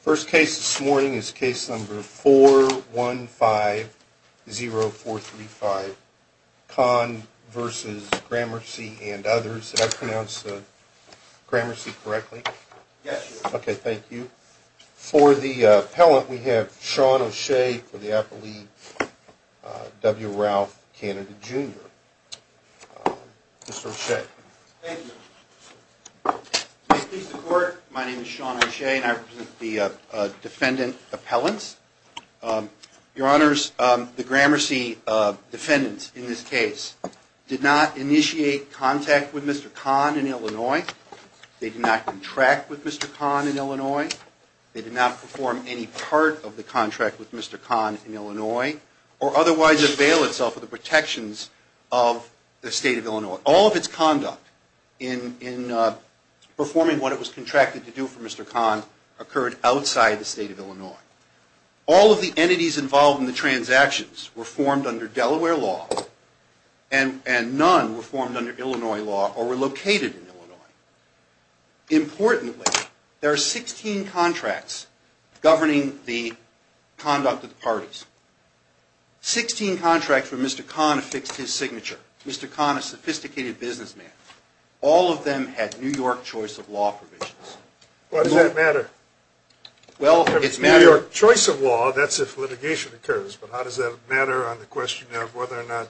First case this morning is case number 4150435, Kahn v. Gramercy and others. Did I pronounce Gramercy correctly? Yes. Okay, thank you. For the appellant, we have Sean O'Shea for the appellee, W. Ralph Canada, Jr. Mr. O'Shea. Thank you. May it please the Court, my name is Sean O'Shea and I represent the defendant appellants. Your Honors, the Gramercy defendants in this case did not initiate contact with Mr. Kahn in Illinois. They did not contract with Mr. Kahn in Illinois. They did not perform any part of the contract with Mr. Kahn in Illinois or otherwise avail itself of the protections of the State of Illinois. All of its conduct in performing what it was contracted to do for Mr. Kahn occurred outside the State of Illinois. All of the entities involved in the transactions were formed under Delaware law and none were formed under Illinois law or were located in Illinois. Importantly, there are 16 contracts governing the conduct of the parties. Sixteen contracts where Mr. Kahn affixed his signature. Mr. Kahn, a sophisticated businessman. All of them had New York choice of law provisions. Why does that matter? Well, it's matter... New York choice of law, that's if litigation occurs, but how does that matter on the question of whether or not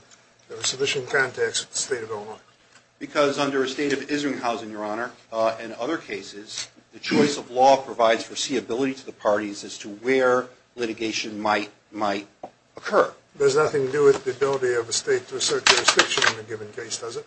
there were sufficient contacts with the State of Illinois? Because under a State of Israel housing, Your Honor, and other cases, the choice of law provides foreseeability to the parties as to where litigation might occur. There's nothing to do with the ability of a State to assert jurisdiction in a given case, does it?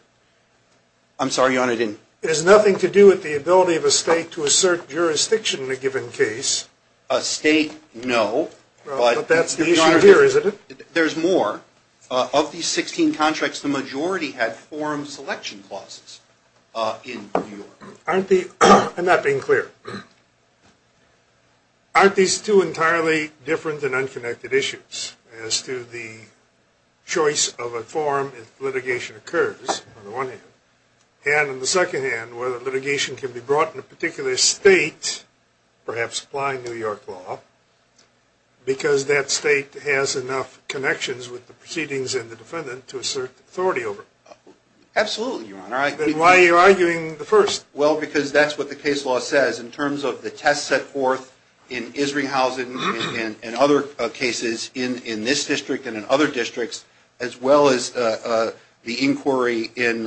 I'm sorry, Your Honor, I didn't... There's nothing to do with the ability of a State to assert jurisdiction in a given case. A State, no. But that's the issue here, isn't it? There's more. Of these 16 contracts, the majority had forum selection clauses in New York. Aren't the... I'm not being clear. Aren't these two entirely different and unconnected issues as to the choice of a forum if litigation occurs, on the one hand? And on the second hand, whether litigation can be brought in a particular State, perhaps applying New York law, because that State has enough connections with the proceedings and the defendant to assert authority over. Absolutely, Your Honor. Then why are you arguing the first? Well, because that's what the case law says in terms of the tests set forth in Isringhausen and other cases in this district and in other districts, as well as the inquiry in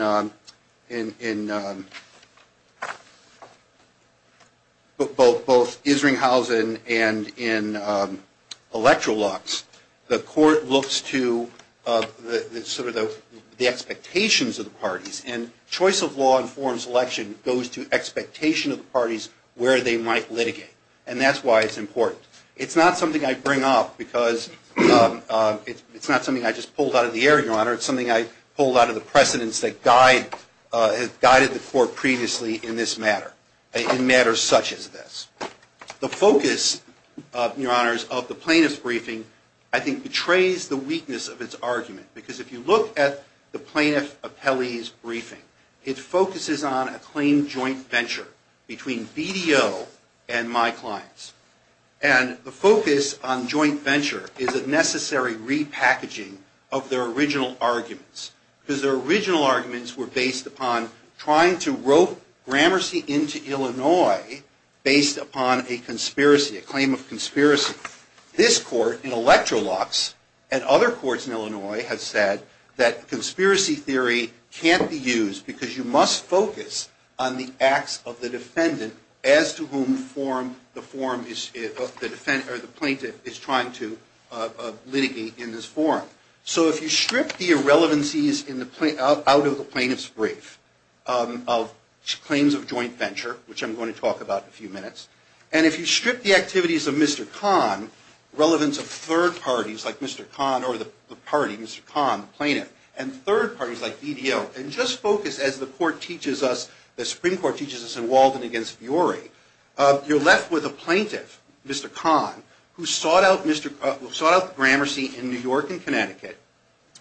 both Isringhausen and in Electrolux, the court looks to sort of the expectations of the parties. And choice of law in forums selection goes to expectation of the parties where they might litigate. And that's why it's important. It's not something I bring up because it's not something I just pulled out of the air, Your Honor. It's something I pulled out of the precedents that guided the court previously in this matter, in matters such as this. The focus, Your Honors, of the plaintiff's briefing, I think, betrays the weakness of its argument. Because if you look at the plaintiff appellee's briefing, it focuses on a claim joint venture between BDO and my clients. And the focus on joint venture is a necessary repackaging of their original arguments. Because their original arguments were based upon trying to rope Gramercy into Illinois based upon a conspiracy, a claim of conspiracy. This court in Electrolux and other courts in Illinois have said that conspiracy theory can't be used because you must focus on the acts of the defendant as to whom the plaintiff is trying to litigate in this forum. So if you strip the irrelevancies out of the plaintiff's brief of claims of joint venture, which I'm going to talk about in a few minutes, and if you strip the activities of Mr. Kahn, relevance of third parties like Mr. Kahn or the party, Mr. Kahn, the plaintiff, and third parties like BDO, and just focus, as the Supreme Court teaches us in Walden against Burey, you're left with a plaintiff, Mr. Kahn, who sought out Gramercy in New York and Connecticut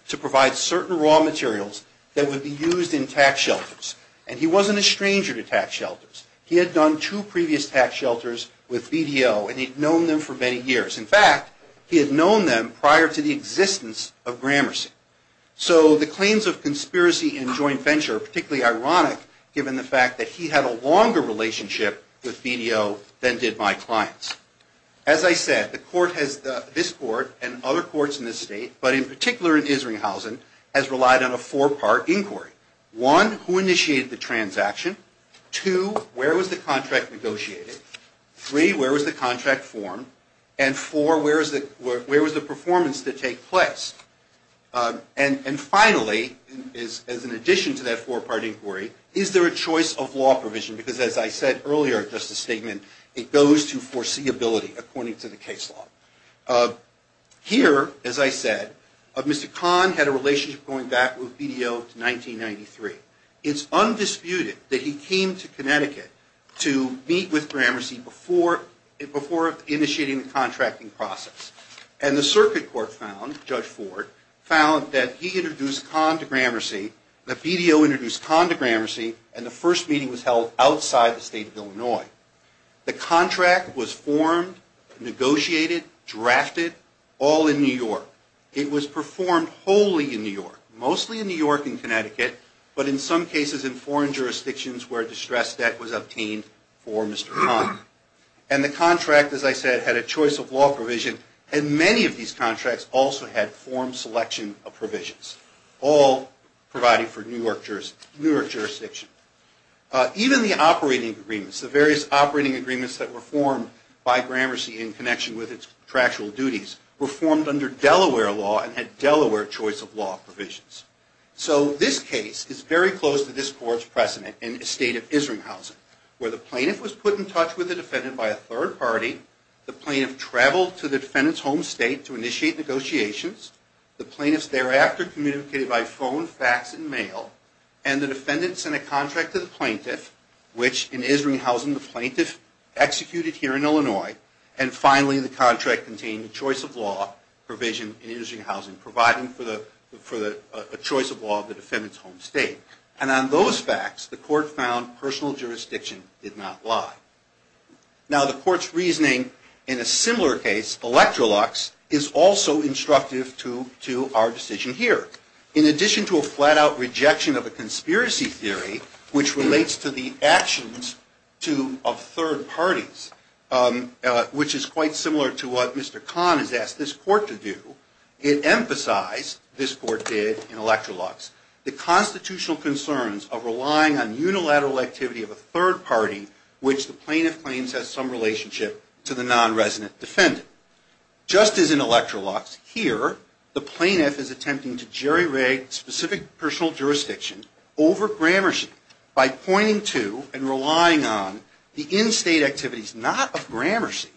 to provide certain raw materials that would be used in tax shelters. And he wasn't a stranger to tax shelters. He had done two previous tax shelters with BDO, and he'd known them for many years. In fact, he had known them prior to the existence of Gramercy. So the claims of conspiracy and joint venture are particularly ironic, given the fact that he had a longer relationship with BDO than did my clients. As I said, this Court and other courts in this state, but in particular in Isringhausen, has relied on a four-part inquiry. One, who initiated the transaction? Two, where was the contract negotiated? Three, where was the contract formed? And four, where was the performance to take place? And finally, as an addition to that four-part inquiry, is there a choice of law provision? Because as I said earlier in Justice's statement, it goes to foreseeability, according to the case law. Here, as I said, Mr. Kahn had a relationship going back with BDO to 1993. It's undisputed that he came to Connecticut to meet with Gramercy before initiating the contracting process. And the circuit court found, Judge Ford, found that he introduced Kahn to Gramercy, that BDO introduced Kahn to Gramercy, and the first meeting was held outside the state of Illinois. The contract was formed, negotiated, drafted, all in New York. It was performed wholly in New York, mostly in New York and Connecticut, but in some cases in foreign jurisdictions where distressed debt was obtained for Mr. Kahn. And the contract, as I said, had a choice of law provision, and many of these contracts also had form selection of provisions, all provided for New York jurisdiction. Even the operating agreements, the various operating agreements that were formed by Gramercy in connection with its contractual duties were formed under Delaware law and had Delaware choice of law provisions. So this case is very close to this court's precedent in the state of Isringhausen, where the plaintiff was put in touch with the defendant by a third party, the plaintiff traveled to the defendant's home state to initiate negotiations, the plaintiff thereafter communicated by phone, fax, and mail, and the defendant sent a contract to the plaintiff, which in Isringhausen the plaintiff executed here in Illinois, and finally the contract contained the choice of law provision in Isringhausen, providing for the choice of law of the defendant's home state. And on those facts, the court found personal jurisdiction did not lie. Now the court's reasoning in a similar case, Electrolux, is also instructive to our decision here. In addition to a flat-out rejection of a conspiracy theory, which relates to the actions of third parties, which is quite similar to what Mr. Kahn has asked this court to do, it emphasized, this court did in Electrolux, the constitutional concerns of relying on unilateral activity of a third party, which the plaintiff claims has some relationship to the non-resident defendant. Just as in Electrolux, here the plaintiff is attempting to jerry-rig specific personal jurisdiction over grammarcy by pointing to and relying on the in-state activities not of grammarcy,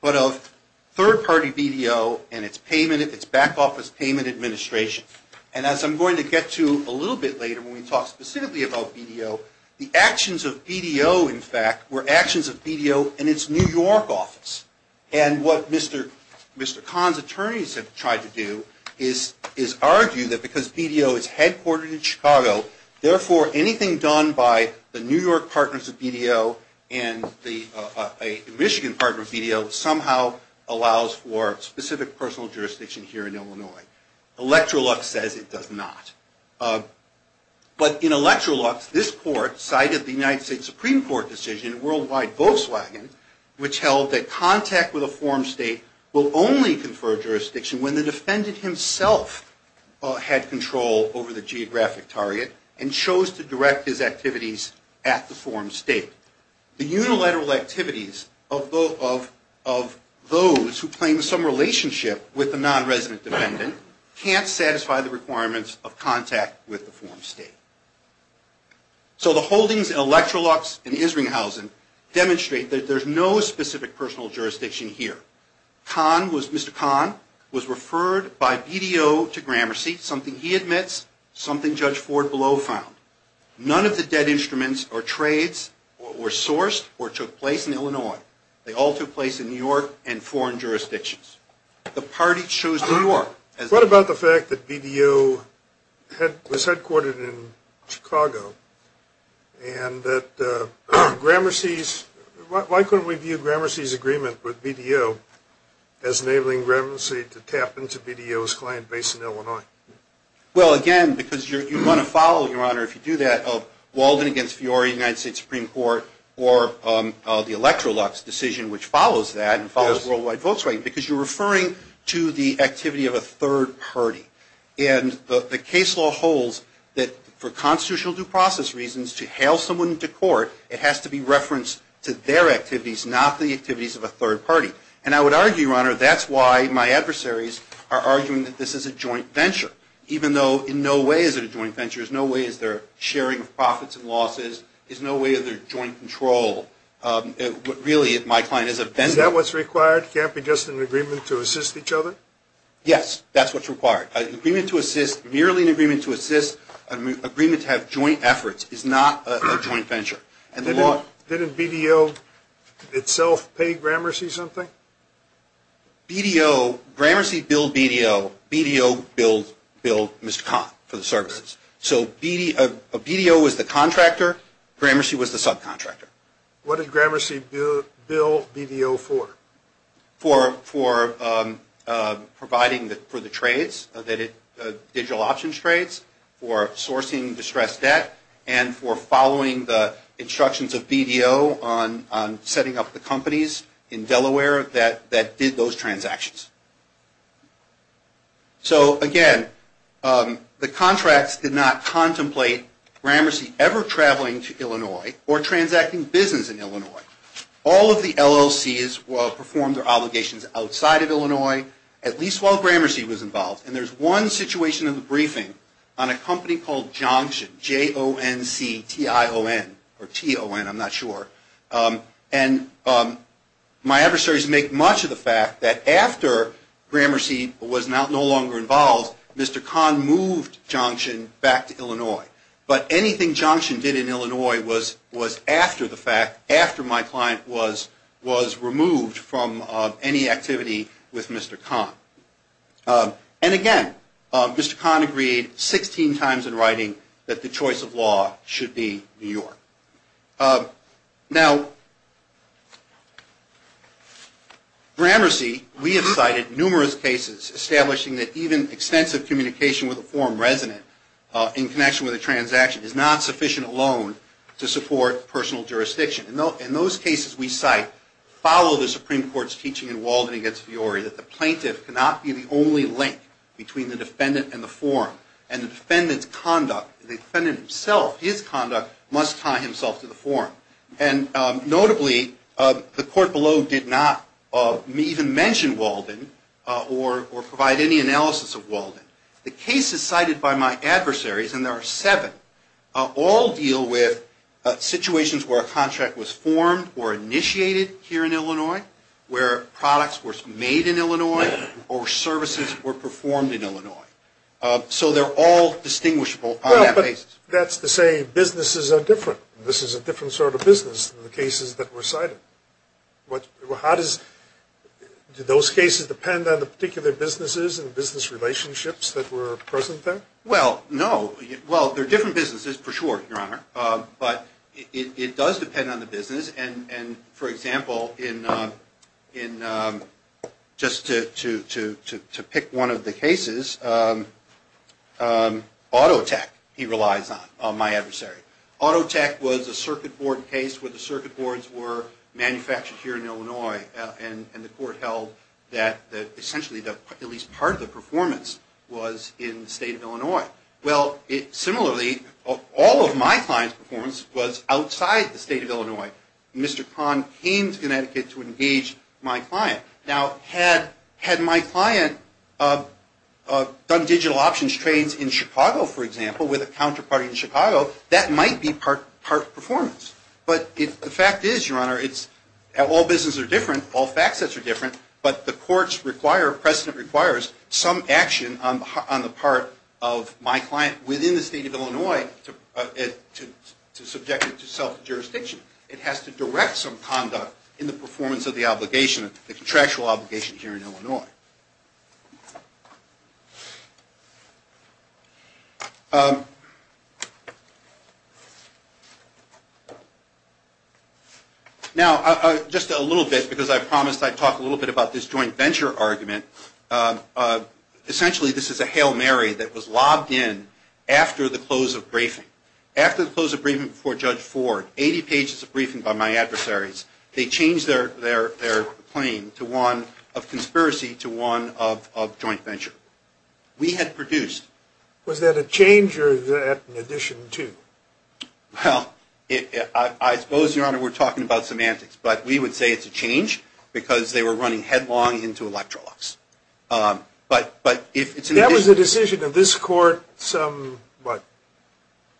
but of third-party BDO and its back-office payment administration. And as I'm going to get to a little bit later when we talk specifically about BDO, the actions of BDO, in fact, were actions of BDO and its New York office. And what Mr. Kahn's attorneys have tried to do is argue that because BDO is headquartered in Chicago, therefore anything done by the New York partners of BDO and the Michigan partners of BDO Electrolux says it does not. But in Electrolux, this court cited the United States Supreme Court decision, worldwide Volkswagen, which held that contact with a form state will only confer jurisdiction when the defendant himself had control over the geographic target and chose to direct his activities at the form state. The unilateral activities of those who claim some relationship with the non-resident defendant can't satisfy the requirements of contact with the form state. So the holdings in Electrolux and Isringhausen demonstrate that there's no specific personal jurisdiction here. Mr. Kahn was referred by BDO to grammarcy, something he admits, something Judge Ford below found. None of the dead instruments or trades were sourced or took place in Illinois. They all took place in New York and foreign jurisdictions. The party chose New York. What about the fact that BDO was headquartered in Chicago, and that grammarcy's, why couldn't we view grammarcy's agreement with BDO as enabling grammarcy to tap into BDO's client base in Illinois? Well, again, because you want to follow, Your Honor, if you do that, Walden against Fiori, United States Supreme Court, or the Electrolux decision, which follows that and follows worldwide votes, right? Because you're referring to the activity of a third party. And the case law holds that for constitutional due process reasons, to hail someone to court, it has to be referenced to their activities, not the activities of a third party. And I would argue, Your Honor, that's why my adversaries are arguing that this is a joint venture, even though in no way is it a joint venture. There's no way is there sharing of profits and losses. There's no way of their joint control. Really, my client is a vendor. Is that what's required? It can't be just an agreement to assist each other? Yes. That's what's required. An agreement to assist, merely an agreement to assist, an agreement to have joint efforts, is not a joint venture. Didn't BDO itself pay Gramercy something? BDO, Gramercy billed BDO, BDO billed Mr. Conn for the services. So BDO was the contractor, Gramercy was the subcontractor. What did Gramercy bill BDO for? For providing for the trades, digital options trades, for sourcing distressed debt, and for following the instructions of BDO on setting up the companies in Delaware that did those transactions. So, again, the contracts did not contemplate Gramercy ever traveling to Illinois or transacting business in Illinois. All of the LLCs performed their obligations outside of Illinois, at least while Gramercy was involved. And there's one situation in the briefing on a company called Jonction, J-O-N-C-T-I-O-N, or T-O-N, I'm not sure. And my adversaries make much of the fact that after Gramercy was no longer involved, Mr. Conn moved Jonction back to Illinois. But anything Jonction did in Illinois was after the fact, after my client was removed from any activity with Mr. Conn. And, again, Mr. Conn agreed 16 times in writing that the choice of law should be New York. Now, Gramercy, we have cited numerous cases establishing that even extensive communication with a foreign resident in connection with a transaction is not sufficient alone to support personal jurisdiction. In those cases we cite, follow the Supreme Court's teaching in Walden v. Fiore, that the plaintiff cannot be the only link between the defendant and the forum. And the defendant's conduct, the defendant himself, his conduct, must tie himself to the forum. And, notably, the court below did not even mention Walden or provide any analysis of Walden. The cases cited by my adversaries, and there are seven, all deal with situations where a contract was formed or initiated here in Illinois, where products were made in Illinois, or services were performed in Illinois. So they're all distinguishable on that basis. Well, but that's to say businesses are different. This is a different sort of business than the cases that were cited. Do those cases depend on the particular businesses and business relationships that were present there? Well, no. Well, they're different businesses, for sure, Your Honor. But it does depend on the business. And, for example, just to pick one of the cases, Autotech he relies on, my adversary. Autotech was a circuit board case where the circuit boards were manufactured here in Illinois. And the court held that essentially at least part of the performance was in the state of Illinois. Well, similarly, all of my client's performance was outside the state of Illinois. Mr. Kahn came to Connecticut to engage my client. Now, had my client done digital options trades in Chicago, for example, with a counterparty in Chicago, that might be part performance. But the fact is, Your Honor, all businesses are different. All fact sets are different. But the court's precedent requires some action on the part of my client within the state of Illinois to subject it to self-jurisdiction. It has to direct some conduct in the performance of the obligation, the contractual obligation here in Illinois. Now, just a little bit, because I promised I'd talk a little bit about this joint venture argument. Essentially, this is a Hail Mary that was lobbed in after the close of briefing. After the close of briefing before Judge Ford, 80 pages of briefing by my adversaries, they changed their claim to one of conspiracy to a joint venture. We had produced. Was that a change or an addition to? Well, I suppose, Your Honor, we're talking about semantics. But we would say it's a change because they were running headlong into Electrolux. But if it's an addition. That was a decision of this court some, what,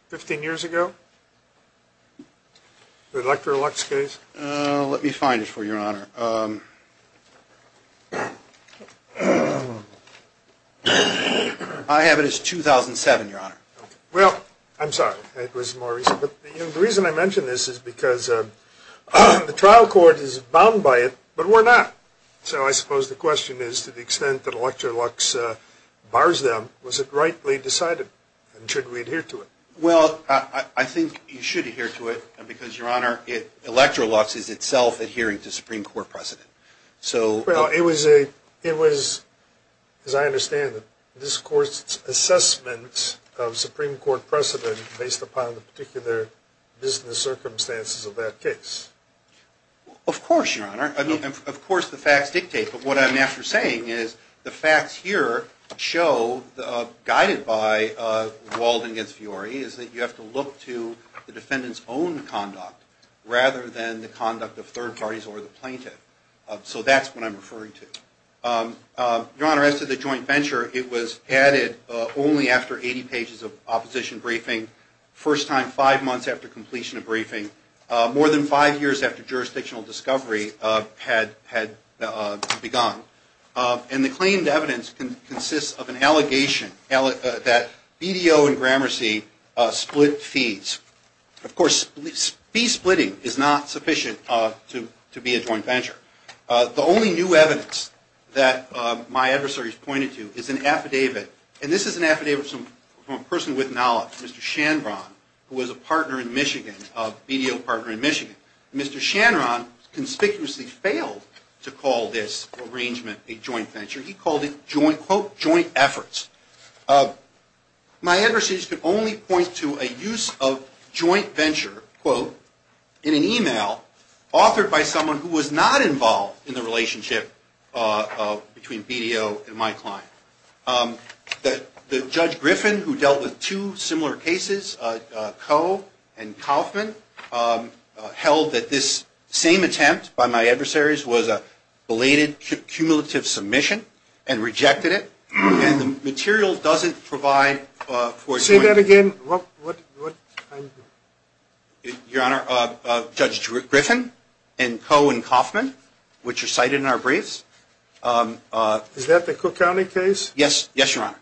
15 years ago, the Electrolux case? Let me find it for you, Your Honor. I have it as 2007, Your Honor. Well, I'm sorry. It was more recent. But the reason I mention this is because the trial court is bound by it, but we're not. So I suppose the question is, to the extent that Electrolux bars them, was it rightly decided? And should we adhere to it? Well, I think you should adhere to it because, Your Honor, Electrolux is itself adhering to Supreme Court precedent. Well, it was, as I understand it, this court's assessment of Supreme Court precedent based upon the particular business circumstances of that case. Of course, Your Honor. Of course the facts dictate. But what I'm after saying is the facts here show, guided by Walden against Fiore, is that you have to look to the defendant's own conduct rather than the conduct of third parties or the plaintiff. So that's what I'm referring to. Your Honor, as to the joint venture, it was added only after 80 pages of opposition briefing, first time five months after completion of briefing, more than five years after jurisdictional discovery had begun. And the claimed evidence consists of an allegation that BDO and Gramercy split fees. Of course, fee splitting is not sufficient to be a joint venture. The only new evidence that my adversaries pointed to is an affidavit. And this is an affidavit from a person with knowledge, Mr. Shanron, who was a partner in Michigan, BDO partner in Michigan. Mr. Shanron conspicuously failed to call this arrangement a joint venture. He called it, quote, joint efforts. My adversaries could only point to a use of joint venture, quote, in an email authored by someone who was not involved in the relationship between BDO and my client. The Judge Griffin, who dealt with two similar cases, Koh and Kaufman, held that this same attempt by my adversaries was a belated cumulative submission and rejected it. And the material doesn't provide for a joint venture. Say that again. Your Honor, Judge Griffin and Koh and Kaufman, which are cited in our briefs. Is that the Cook County case? Yes, Your Honor.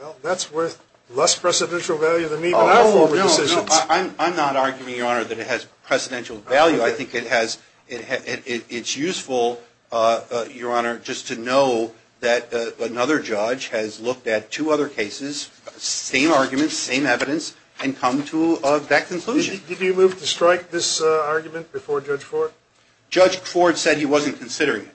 Well, that's worth less precedential value than even our forward decisions. I'm not arguing, Your Honor, that it has precedential value. I think it's useful, Your Honor, just to know that another judge has looked at two other cases, same arguments, same evidence, and come to that conclusion. Did he move to strike this argument before Judge Ford? Judge Ford said he wasn't considering it.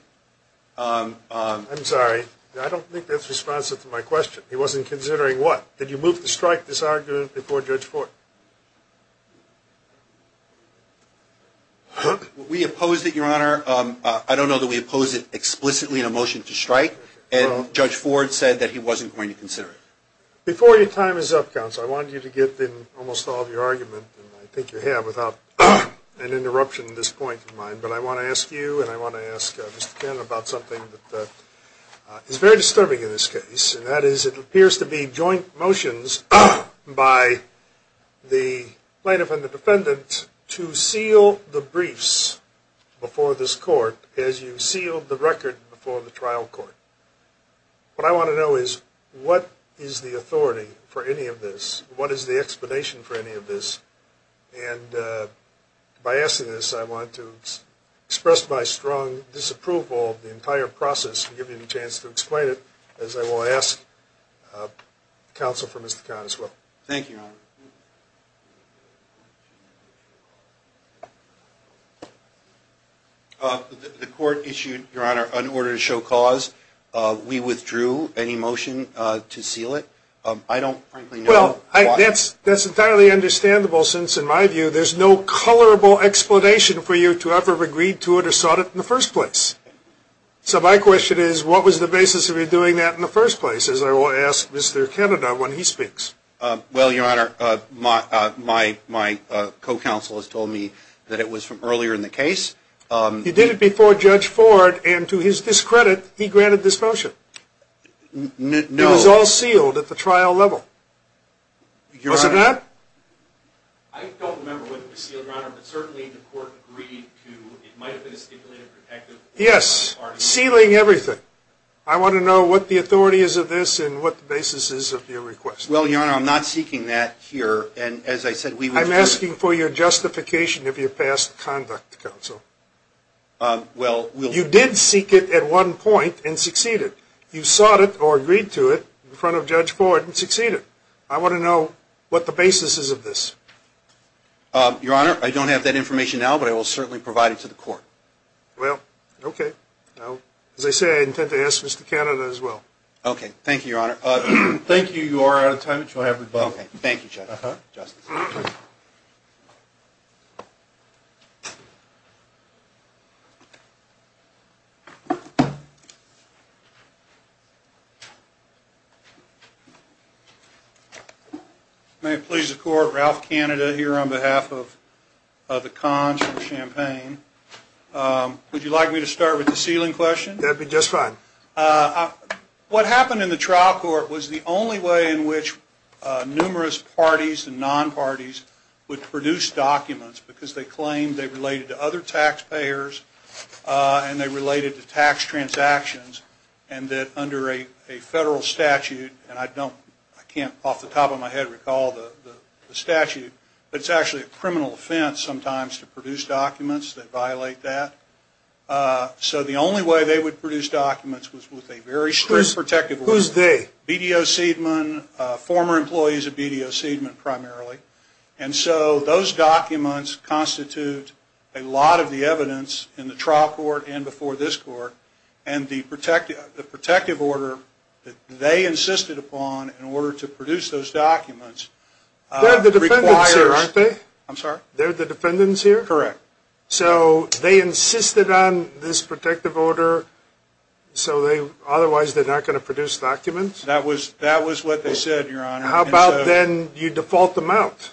I'm sorry. I don't think that's responsive to my question. He wasn't considering what? Did you move to strike this argument before Judge Ford? We opposed it, Your Honor. I don't know that we opposed it explicitly in a motion to strike, and Judge Ford said that he wasn't going to consider it. Before your time is up, counsel, I wanted you to get in almost all of your argument, and I think you have without an interruption in this point of mine, but I want to ask you and I want to ask Mr. Cannon about something that is very disturbing in this case, and that is it appears to be joint motions by the plaintiff and the defendant to seal the briefs before this court as you sealed the record before the trial court. What I want to know is what is the authority for any of this? What is the explanation for any of this? And by asking this, I want to express my strong disapproval of the entire process and give you a chance to explain it, as I will ask counsel for Mr. Cannon as well. Thank you, Your Honor. The court issued, Your Honor, an order to show cause. We withdrew any motion to seal it. Well, that's entirely understandable since, in my view, there's no colorable explanation for you to have ever agreed to it or sought it in the first place. So my question is what was the basis of you doing that in the first place, as I will ask Mr. Canada when he speaks. Well, Your Honor, my co-counsel has told me that it was from earlier in the case. He did it before Judge Ford, and to his discredit, he granted this motion. No. It was all sealed at the trial level. Was it not? I don't remember whether it was sealed, Your Honor, but certainly the court agreed to it might have been a stipulated protective order. Yes, sealing everything. I want to know what the authority is of this and what the basis is of your request. Well, Your Honor, I'm not seeking that here, and as I said, we withdrew it. I'm asking for your justification of your past conduct, counsel. You did seek it at one point and succeeded. You sought it or agreed to it in front of Judge Ford and succeeded. I want to know what the basis is of this. Your Honor, I don't have that information now, but I will certainly provide it to the court. Well, okay. As I say, I intend to ask Mr. Canada as well. Okay. Thank you, Your Honor. Thank you. You are out of time. Thank you, Justice. May it please the Court, Ralph Canada here on behalf of the Cons for Champaign. Would you like me to start with the sealing question? That would be just fine. What happened in the trial court was the only way in which numerous parties and non-parties would produce documents and they related to tax transactions and that under a federal statute, and I can't off the top of my head recall the statute, but it's actually a criminal offense sometimes to produce documents that violate that. So the only way they would produce documents was with a very strict protective order. Who's they? BDO Seidman, former employees of BDO Seidman primarily. And so those documents constitute a lot of the evidence in the trial court and before this court and the protective order that they insisted upon in order to produce those documents. They're the defendants here, aren't they? I'm sorry? They're the defendants here? Correct. So they insisted on this protective order so otherwise they're not going to produce documents? That was what they said, Your Honor. How about then you default them out?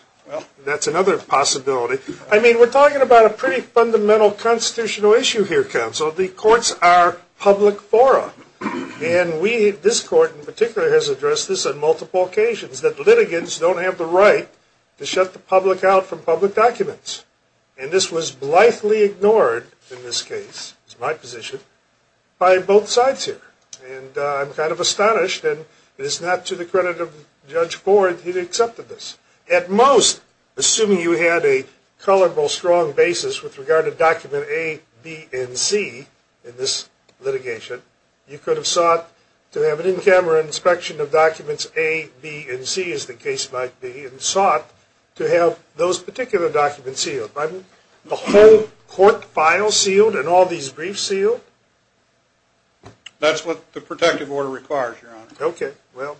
That's another possibility. I mean we're talking about a pretty fundamental constitutional issue here, counsel. The courts are public fora and this court in particular has addressed this on multiple occasions that litigants don't have the right to shut the public out from public documents. And this was blithely ignored in this case, it's my position, by both sides here. And I'm kind of astonished and it is not to the credit of Judge Ford, he accepted this. At most, assuming you had a colorful, strong basis with regard to document A, B, and C in this litigation, you could have sought to have an in-camera inspection of documents A, B, and C as the case might be and sought to have those particular documents sealed. The whole court file sealed and all these briefs sealed? That's what the protective order requires, Your Honor. Okay, well,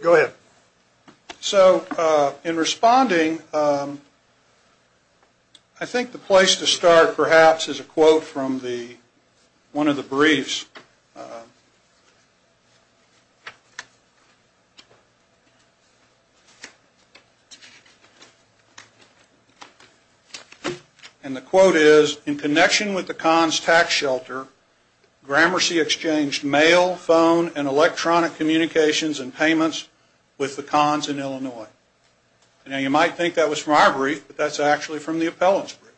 go ahead. So in responding, I think the place to start perhaps is a quote from one of the briefs. And the quote is, in connection with the cons tax shelter, Gramercy exchanged mail, phone, and electronic communications and payments with the cons in Illinois. Now you might think that was from our brief, but that's actually from the appellant's brief.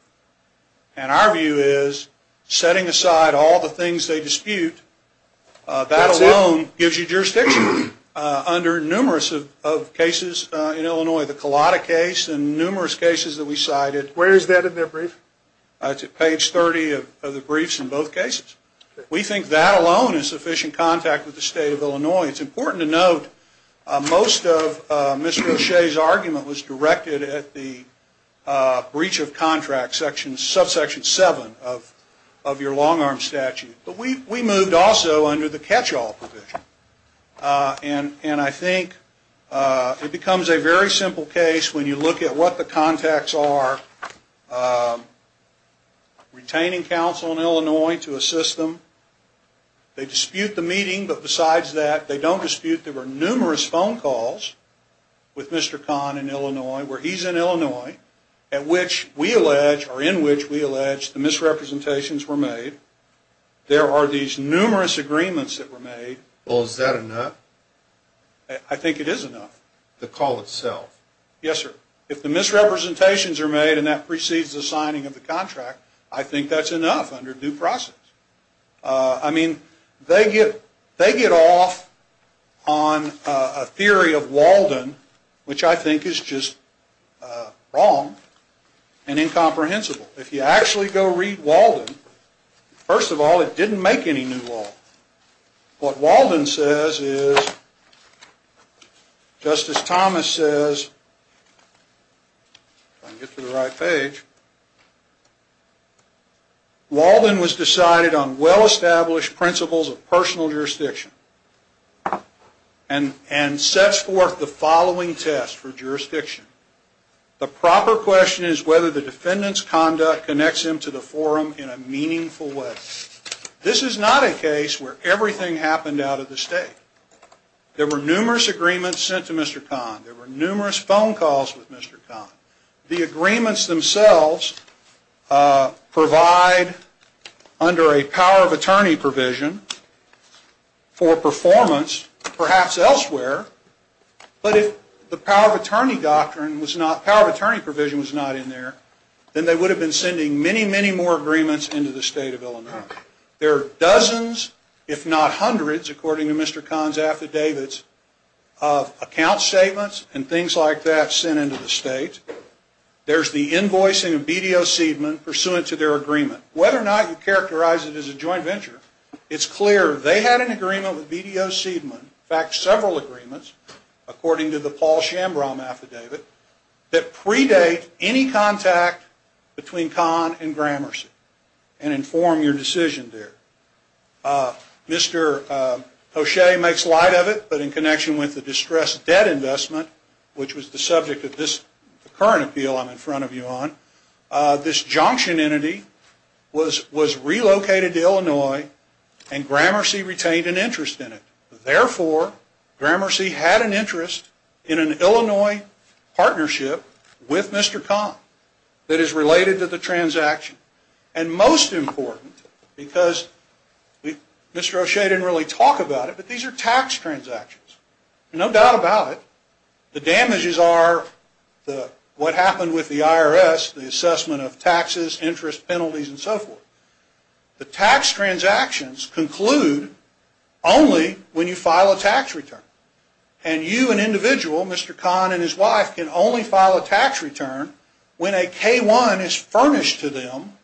And our view is, setting aside all the things they dispute, that alone gives you jurisdiction under numerous of cases in Illinois. The Collada case and numerous cases that we cited. Where is that in their brief? It's at page 30 of the briefs in both cases. We think that alone is sufficient contact with the state of Illinois. It's important to note, most of Mr. O'Shea's argument was directed at the breach of contract, subsection 7 of your long-arm statute. But we moved also under the catch-all provision. And I think it becomes a very simple case when you look at what the contacts are, retaining counsel in Illinois to assist them. They dispute the meeting, but besides that, they don't dispute there were numerous phone calls with Mr. Kahn in Illinois, where he's in Illinois, at which we allege, or in which we allege, the misrepresentations were made. There are these numerous agreements that were made. Well, is that enough? I think it is enough. The call itself? Yes, sir. If the misrepresentations are made and that precedes the signing of the contract, I think that's enough under due process. I mean, they get off on a theory of Walden, which I think is just wrong and incomprehensible. If you actually go read Walden, first of all, it didn't make any new law. What Walden says is, Justice Thomas says, if I can get to the right page, Walden was decided on well-established principles of personal jurisdiction and sets forth the following test for jurisdiction. The proper question is whether the defendant's conduct connects him to the forum in a meaningful way. This is not a case where everything happened out of the state. There were numerous agreements sent to Mr. Kahn. There were numerous phone calls with Mr. Kahn. The agreements themselves provide, under a power of attorney provision, for performance perhaps elsewhere, but if the power of attorney provision was not in there, then they would have been sending many, many more agreements into the state of Illinois. There are dozens, if not hundreds, according to Mr. Kahn's affidavits, of account statements and things like that sent into the state. There's the invoicing of BDO Seidman pursuant to their agreement. Whether or not you characterize it as a joint venture, it's clear they had an agreement with BDO Seidman, in fact, several agreements, according to the Paul Schambraum affidavit, that predate any contact between Kahn and Gramercy and inform your decision there. Mr. Hoschei makes light of it, but in connection with the distressed debt investment, which was the subject of this current appeal I'm in front of you on, this junction entity was relocated to Illinois and Gramercy retained an interest in it. Therefore, Gramercy had an interest in an Illinois partnership with Mr. Kahn that is related to the transaction. And most important, because Mr. Hoschei didn't really talk about it, but these are tax transactions. No doubt about it, the damages are what happened with the IRS, the assessment of taxes, interest, penalties, and so forth. The tax transactions conclude only when you file a tax return. And you, an individual, Mr. Kahn and his wife, can only file a tax return when a K-1 is furnished to them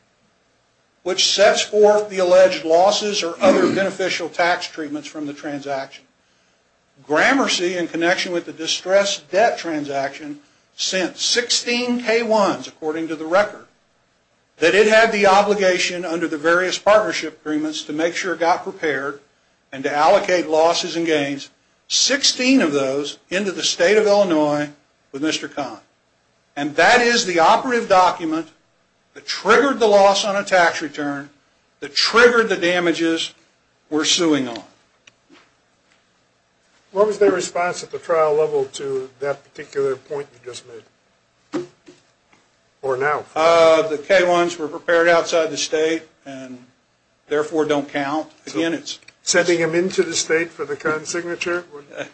which sets forth the alleged losses or other beneficial tax treatments from the transaction. Gramercy, in connection with the distressed debt transaction, sent 16 K-1s, according to the record, that it had the obligation under the various partnership agreements to make sure it got prepared and to allocate losses and gains, 16 of those, into the state of Illinois with Mr. Kahn. And that is the operative document that triggered the loss on a tax return, that triggered the damages we're suing on. What was their response at the trial level to that particular point you just made? Or now? The K-1s were prepared outside the state and therefore don't count. Again, it's... Sending them into the state for the current signature?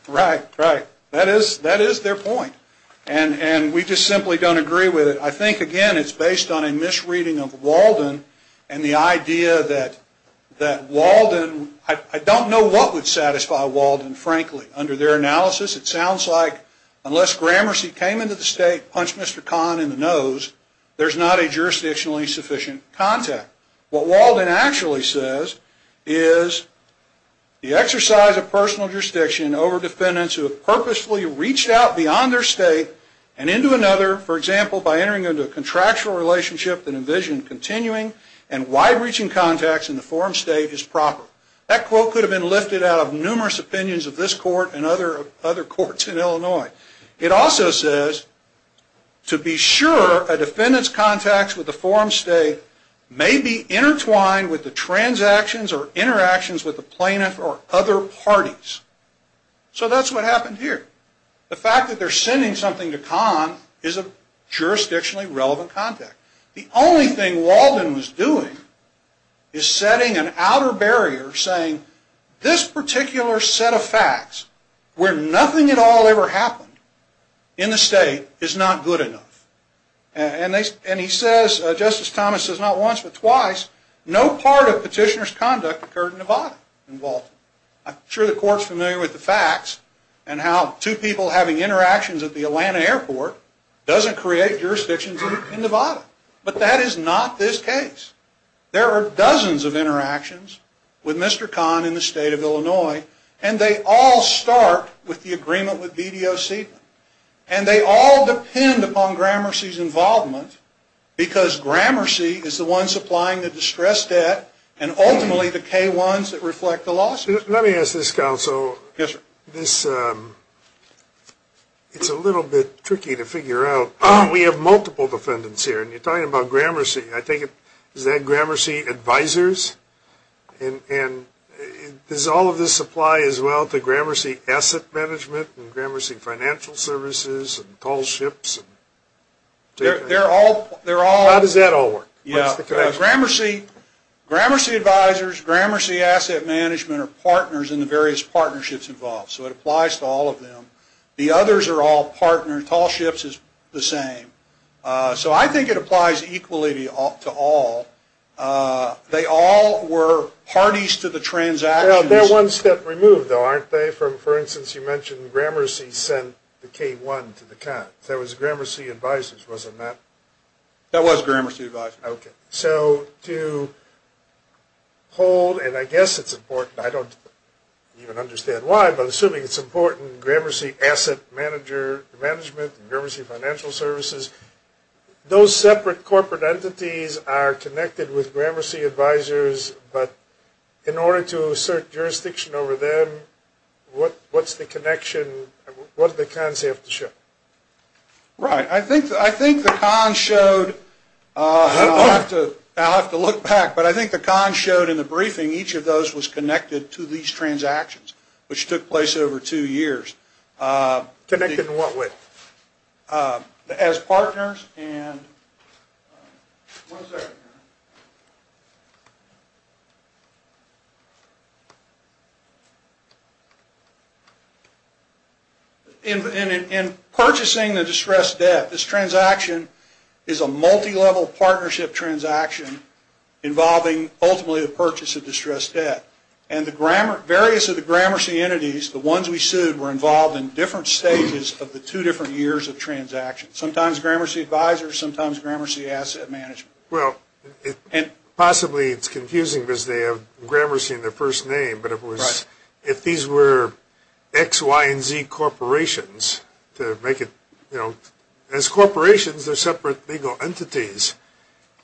Right, right. That is their point. And we just simply don't agree with it. I think, again, it's based on a misreading of Walden and the idea that Walden... I don't know what would satisfy Walden, frankly. Under their analysis, it sounds like unless Gramercy came into the state, punched Mr. Kahn in the nose, there's not a jurisdictionally sufficient contact. What Walden actually says is, the exercise of personal jurisdiction over defendants who have purposefully reached out beyond their state and into another, for example, by entering into a contractual relationship that envisioned continuing and wide-reaching contacts in the forum state is proper. That quote could have been lifted out of numerous opinions of this court and other courts in Illinois. It also says, to be sure a defendant's contacts with the forum state may be intertwined with the transactions or interactions with the plaintiff or other parties. So that's what happened here. The fact that they're sending something to Kahn is a jurisdictionally relevant contact. The only thing Walden was doing is setting an outer barrier saying, this particular set of facts, where nothing at all ever happened in the state, is not good enough. And he says, Justice Thomas says not once but twice, no part of petitioner's conduct occurred in the body in Walden. I'm sure the court's familiar with the facts and how two people having interactions at the Atlanta airport doesn't create jurisdictions in Nevada. But that is not this case. There are dozens of interactions with Mr. Kahn in the state of Illinois and they all start with the agreement with BDO Seidman. And they all depend upon Gramercy's involvement because Gramercy is the one supplying the distress debt and ultimately the K1s that reflect the lawsuits. Let me ask this, counsel. Yes, sir. It's a little bit tricky to figure out. We have multiple defendants here. And you're talking about Gramercy. Is that Gramercy Advisors? And does all of this apply as well to Gramercy Asset Management and Gramercy Financial Services and Tall Ships? They're all... How does that all work? Gramercy Advisors, Gramercy Asset Management are partners in the various partnerships involved. So it applies to all of them. The others are all partners. Tall Ships is the same. So I think it applies equally to all. They all were parties to the transactions. They're one step removed, though, aren't they? For instance, you mentioned Gramercy sent the K1 to the Kahn. So it was Gramercy Advisors, wasn't that? That was Gramercy Advisors. Okay. So to hold, and I guess it's important, I don't even understand why, but assuming it's important, Gramercy Asset Management and Gramercy Financial Services, those separate corporate entities are connected with Gramercy Advisors. But in order to assert jurisdiction over them, what's the connection, what do the Kahn's have to show? Right. I think the Kahn showed, I'll have to look back, but I think the Kahn showed in the briefing each of those was connected to these transactions, which took place over two years. Connected in what way? As partners and, one second. In purchasing the distressed debt, this transaction is a multi-level partnership transaction involving, ultimately, the purchase of distressed debt. And the various of the Gramercy entities, the ones we sued, were involved in different stages of the two different years of transactions. Sometimes Gramercy Advisors, sometimes Gramercy Asset Management. Well, possibly it's confusing because they have Gramercy in their first name, but if these were X, Y, and Z corporations to make it, you know, as corporations, they're separate legal entities.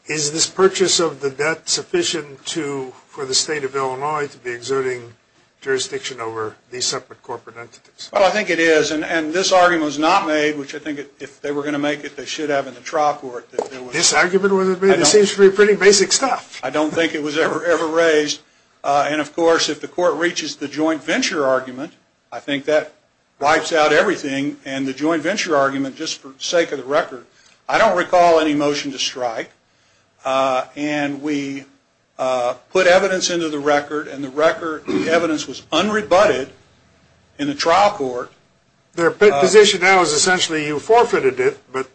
Is this purchase of the debt sufficient for the state of Illinois to be exerting jurisdiction over these separate corporate entities? Well, I think it is. And this argument was not made, which I think if they were going to make it, they should have in the trial court. This argument was made? It seems to be pretty basic stuff. I don't think it was ever raised. And, of course, if the court reaches the joint venture argument, I think that wipes out everything. And the joint venture argument, just for the sake of the record, I don't recall any motion to strike. And we put evidence into the record, and the evidence was unrebutted in the trial court. Their position now is essentially you forfeited it, but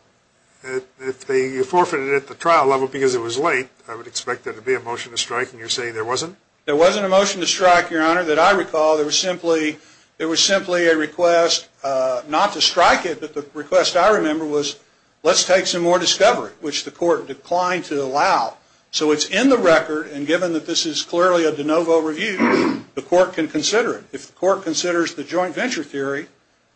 you forfeited it at the trial level because it was late. I would expect there to be a motion to strike, and you're saying there wasn't? There wasn't a motion to strike, Your Honor, that I recall. There was simply a request not to strike it, but the request I remember was, let's take some more discovery, which the court declined to allow. So it's in the record, and given that this is clearly a de novo review, the court can consider it. If the court considers the joint venture theory,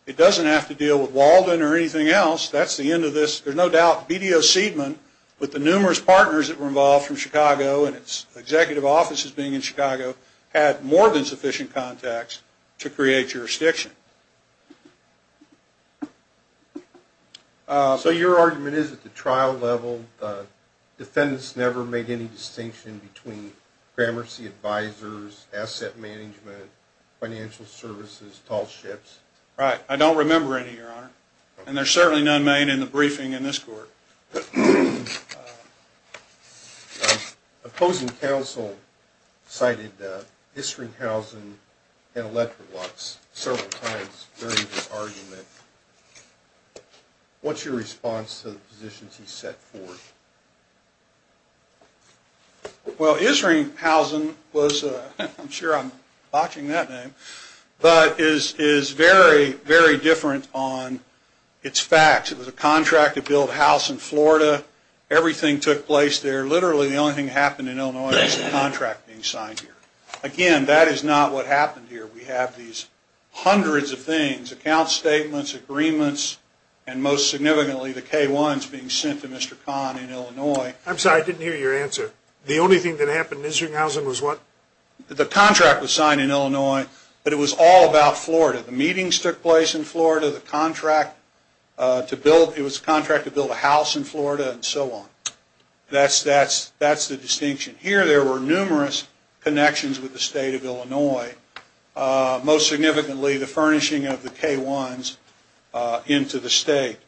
it doesn't have to deal with Walden or anything else. That's the end of this. There's no doubt BDO Seidman, with the numerous partners that were involved from Chicago and its executive offices being in Chicago, had more than sufficient contacts to create jurisdiction. So your argument is at the trial level, defendants never made any distinction between programmercy advisors, asset management, financial services, tall ships? Right. I don't remember any, Your Honor. And there's certainly none made in the briefing in this court. Opposing counsel cited history, housing, and electric lots several times during this argument. What's your response to the positions he's set forth? Well, Isringhausen was, I'm sure I'm botching that name, but is very, very different on its facts. It was a contract to build a house in Florida. Everything took place there. Literally the only thing that happened in Illinois was the contract being signed here. Again, that is not what happened here. We have these hundreds of things, account statements, agreements, and most significantly the K-1s being sent to Mr. Kahn in Illinois. I'm sorry, I didn't hear your answer. The only thing that happened in Isringhausen was what? The contract was signed in Illinois, but it was all about Florida. The meetings took place in Florida. It was a contract to build a house in Florida and so on. That's the distinction. Here there were numerous connections with the state of Illinois, most significantly the furnishing of the K-1s into the state.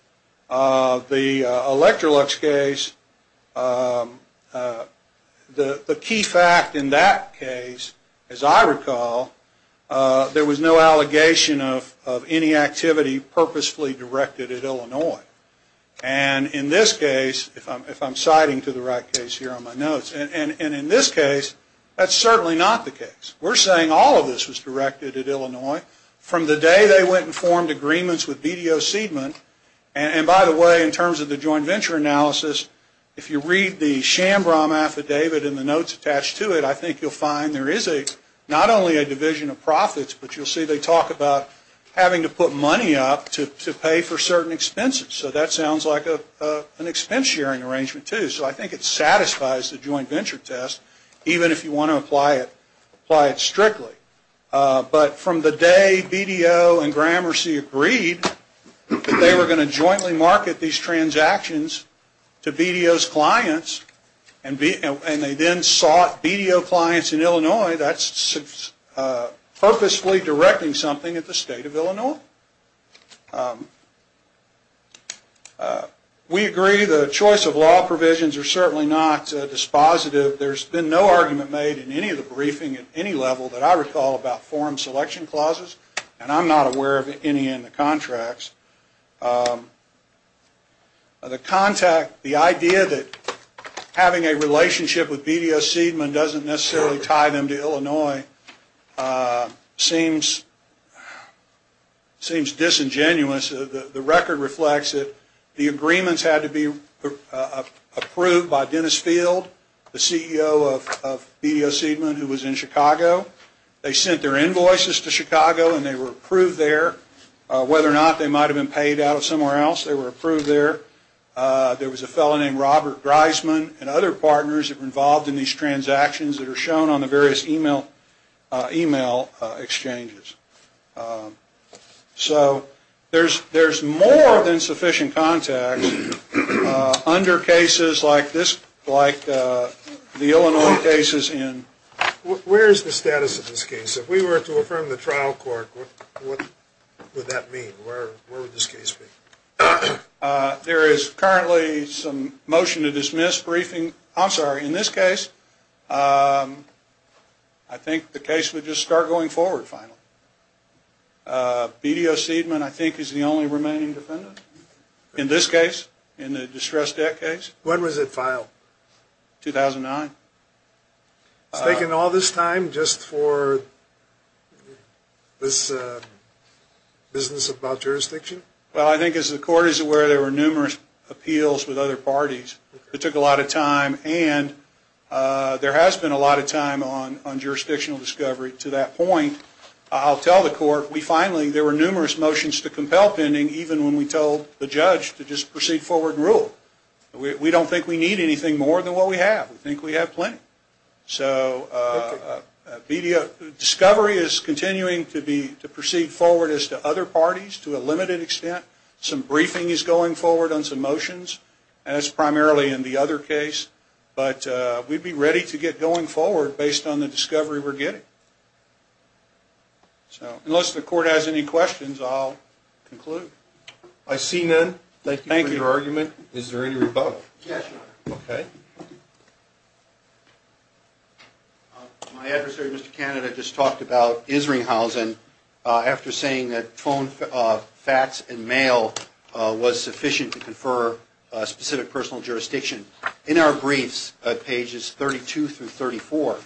The Electrolux case, the key fact in that case, as I recall, there was no allegation of any activity purposefully directed at Illinois. In this case, if I'm citing to the right case here on my notes, and in this case, that's certainly not the case. We're saying all of this was directed at Illinois from the day they went and formed agreements with BDO Seidman. By the way, in terms of the joint venture analysis, if you read the Shambrom affidavit and the notes attached to it, I think you'll find there is not only a division of profits, but you'll see they talk about having to put money up to pay for certain expenses. So that sounds like an expense sharing arrangement too. So I think it satisfies the joint venture test, even if you want to apply it strictly. But from the day BDO and Gramercy agreed that they were going to jointly market these transactions to BDO's clients, and they then sought BDO clients in Illinois, that's purposefully directing something at the state of Illinois. We agree the choice of law provisions are certainly not dispositive. There's been no argument made in any of the briefing at any level that I recall about forum selection clauses, and I'm not aware of any in the contracts. The idea that having a relationship with BDO Seidman doesn't necessarily tie them to Illinois seems disingenuous. The record reflects that the agreements had to be approved by Dennis Field, the CEO of BDO Seidman, who was in Chicago. They sent their invoices to Chicago, and they were approved there. Whether or not they might have been paid out of somewhere else, they were approved there. There was a fellow named Robert Greisman and other partners that were involved in these transactions that are shown on the various email exchanges. So there's more than sufficient context under cases like the Illinois cases. Where is the status of this case? If we were to affirm the trial court, what would that mean? Where would this case be? There is currently some motion to dismiss briefing. I'm sorry, in this case, I think the case would just start going forward finally. BDO Seidman, I think, is the only remaining defendant in this case, in the distressed debt case. When was it filed? 2009. It's taken all this time just for this business about jurisdiction? Well, I think as the court is aware, there were numerous appeals with other parties. It took a lot of time, and there has been a lot of time on jurisdictional discovery to that point. I'll tell the court, we finally, there were numerous motions to compel pending, even when we told the judge to just proceed forward and rule. We don't think we need anything more than what we have. We think we have plenty. So discovery is continuing to proceed forward as to other parties to a limited extent. Some briefing is going forward on some motions, and that's primarily in the other case. But we'd be ready to get going forward based on the discovery we're getting. So unless the court has any questions, I'll conclude. I see none. Thank you for your argument. Thank you. Is there any rebuttal? Yes, Your Honor. Okay. My adversary, Mr. Canada, just talked about Isringhausen after saying that phone, fax, and mail was sufficient to confer specific personal jurisdiction. In our briefs at pages 32 through 34,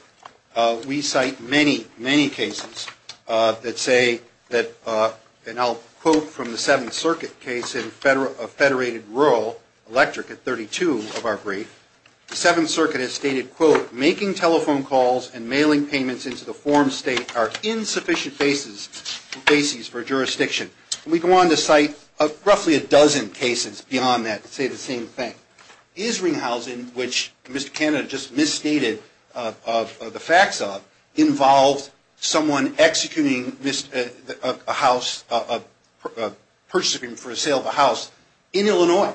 we cite many, many cases that say that, and I'll quote from the Seventh Circuit case of federated rural electric at 32 of our brief, the Seventh Circuit has stated, quote, making telephone calls and mailing payments into the form state are insufficient bases for jurisdiction. We go on to cite roughly a dozen cases beyond that that say the same thing. Isringhausen, which Mr. Canada just misstated the facts of, involves someone executing a purchase agreement for a sale of a house in Illinois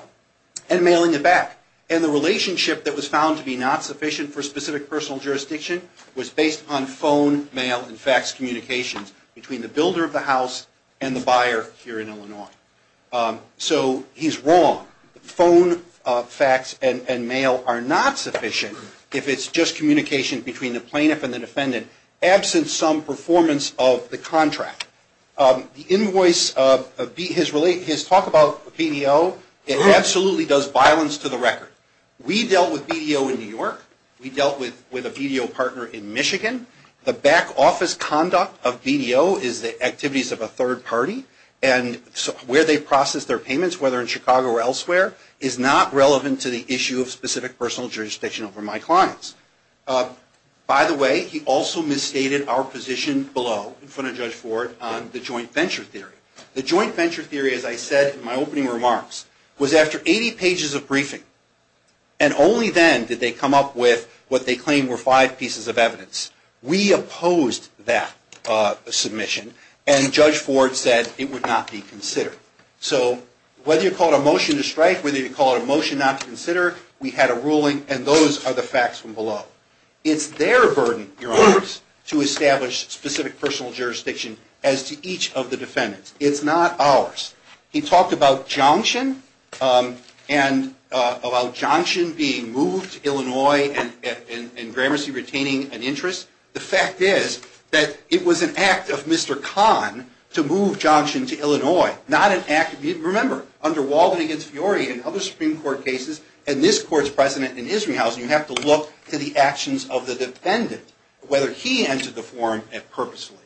and mailing it back. And the relationship that was found to be not sufficient for specific personal jurisdiction was based on phone, mail, and fax communications between the builder of the house and the buyer here in Illinois. So he's wrong. Phone, fax, and mail are not sufficient if it's just communication between the plaintiff and the defendant absent some performance of the contract. The invoice, his talk about BDO, it absolutely does violence to the record. We dealt with BDO in New York. We dealt with a BDO partner in Michigan. The back office conduct of BDO is the activities of a third party, and where they process their payments, whether in Chicago or elsewhere, is not relevant to the issue of specific personal jurisdiction over my clients. By the way, he also misstated our position below in front of Judge Ford on the joint venture theory. The joint venture theory, as I said in my opening remarks, was after 80 pages of briefing, and only then did they come up with what they claimed were five pieces of evidence. We opposed that submission, and Judge Ford said it would not be considered. So whether you call it a motion to strike, whether you call it a motion not to consider, we had a ruling, and those are the facts from below. It's their burden, Your Honors, to establish specific personal jurisdiction as to each of the defendants. It's not ours. He talked about Johnshin and about Johnshin being moved to Illinois and Gramercy retaining an interest. The fact is that it was an act of Mr. Kahn to move Johnshin to Illinois, not an act. Remember, under Walden against Fiori and other Supreme Court cases, and this Court's president in Israel, you have to look to the actions of the defendant, whether he entered the forum purposely.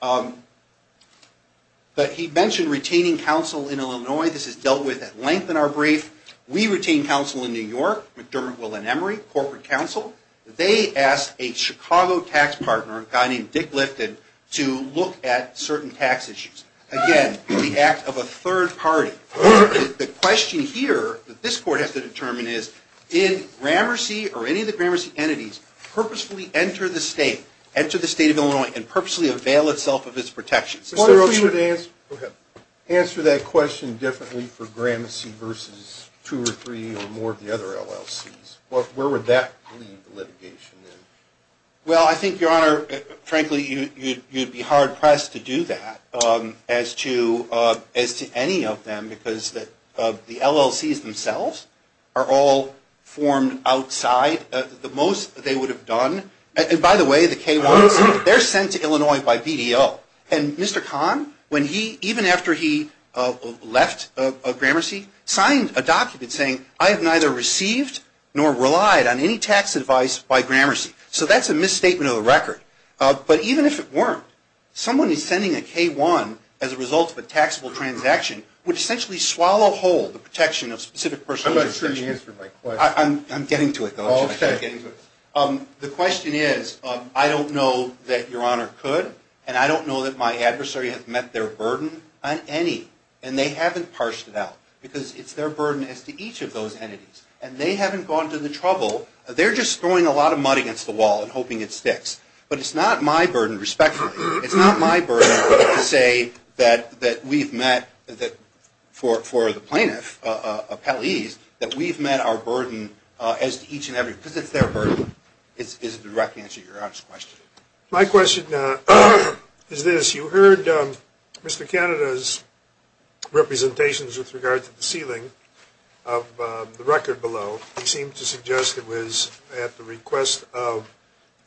But he mentioned retaining counsel in Illinois. This is dealt with at length in our brief. We retained counsel in New York, McDermott, Will and Emery, corporate counsel. They asked a Chicago tax partner, a guy named Dick Lifton, to look at certain tax issues. Again, the act of a third party. The question here that this Court has to determine is, did Gramercy or any of the Gramercy entities purposefully enter the state, enter the state of Illinois and purposely avail itself of its protections? I wonder if we would answer that question differently for Gramercy versus two or three or more of the other LLCs. Where would that lead the litigation? Well, I think, Your Honor, frankly, you'd be hard-pressed to do that as to any of them, because the LLCs themselves are all formed outside the most they would have done. And by the way, the K-1, they're sent to Illinois by BDO. And Mr. Kahn, even after he left Gramercy, signed a document saying, I have neither received nor relied on any tax advice by Gramercy. So that's a misstatement of the record. But even if it weren't, someone is sending a K-1 as a result of a taxable transaction, would essentially swallow whole the protection of specific persons. I'm not sure you answered my question. I'm getting to it, though. The question is, I don't know that Your Honor could, and I don't know that my adversary has met their burden on any. And they haven't parsed it out, because it's their burden as to each of those entities. And they haven't gone to the trouble. They're just throwing a lot of mud against the wall and hoping it sticks. But it's not my burden, respectfully. It's not my burden to say that we've met, for the plaintiff, that we've met our burden as to each and every, because it's their burden, is the direct answer to Your Honor's question. My question is this. You heard Mr. Canada's representations with regard to the sealing of the record below. He seemed to suggest it was at the request of,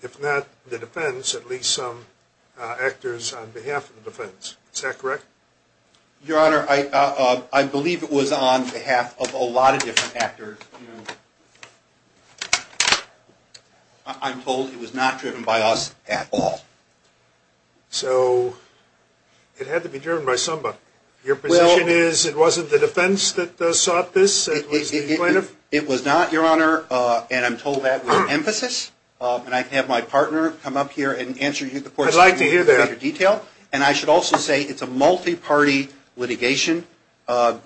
if not the defense, at least some actors on behalf of the defense. Is that correct? Your Honor, I believe it was on behalf of a lot of different actors. I'm told it was not driven by us at all. So it had to be driven by somebody. Your position is it wasn't the defense that sought this? It was the plaintiff? It was not, Your Honor, and I'm told that with emphasis. And I can have my partner come up here and answer you the question in greater detail. I'd like to hear that. And I should also say it's a multi-party litigation. But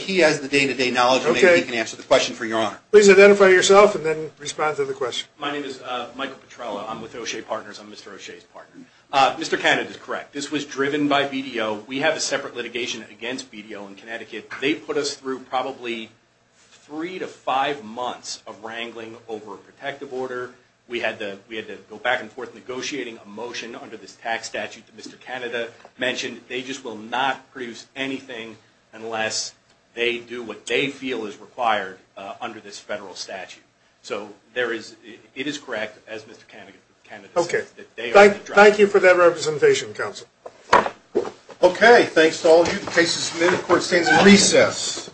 he has the day-to-day knowledge. Maybe he can answer the question for Your Honor. Please identify yourself and then respond to the question. My name is Michael Petrella. I'm with O'Shea Partners. I'm Mr. O'Shea's partner. Mr. Canada is correct. This was driven by BDO. We have a separate litigation against BDO in Connecticut. They put us through probably three to five months of wrangling over a protective order. We had to go back and forth negotiating a motion under this tax statute that Mr. Canada mentioned. They just will not produce anything unless they do what they feel is required under this federal statute. So it is correct, as Mr. Canada says, that they are the driver. Thank you for that representation, counsel. Okay. Thanks to all of you. The case is submitted. Court stands at recess.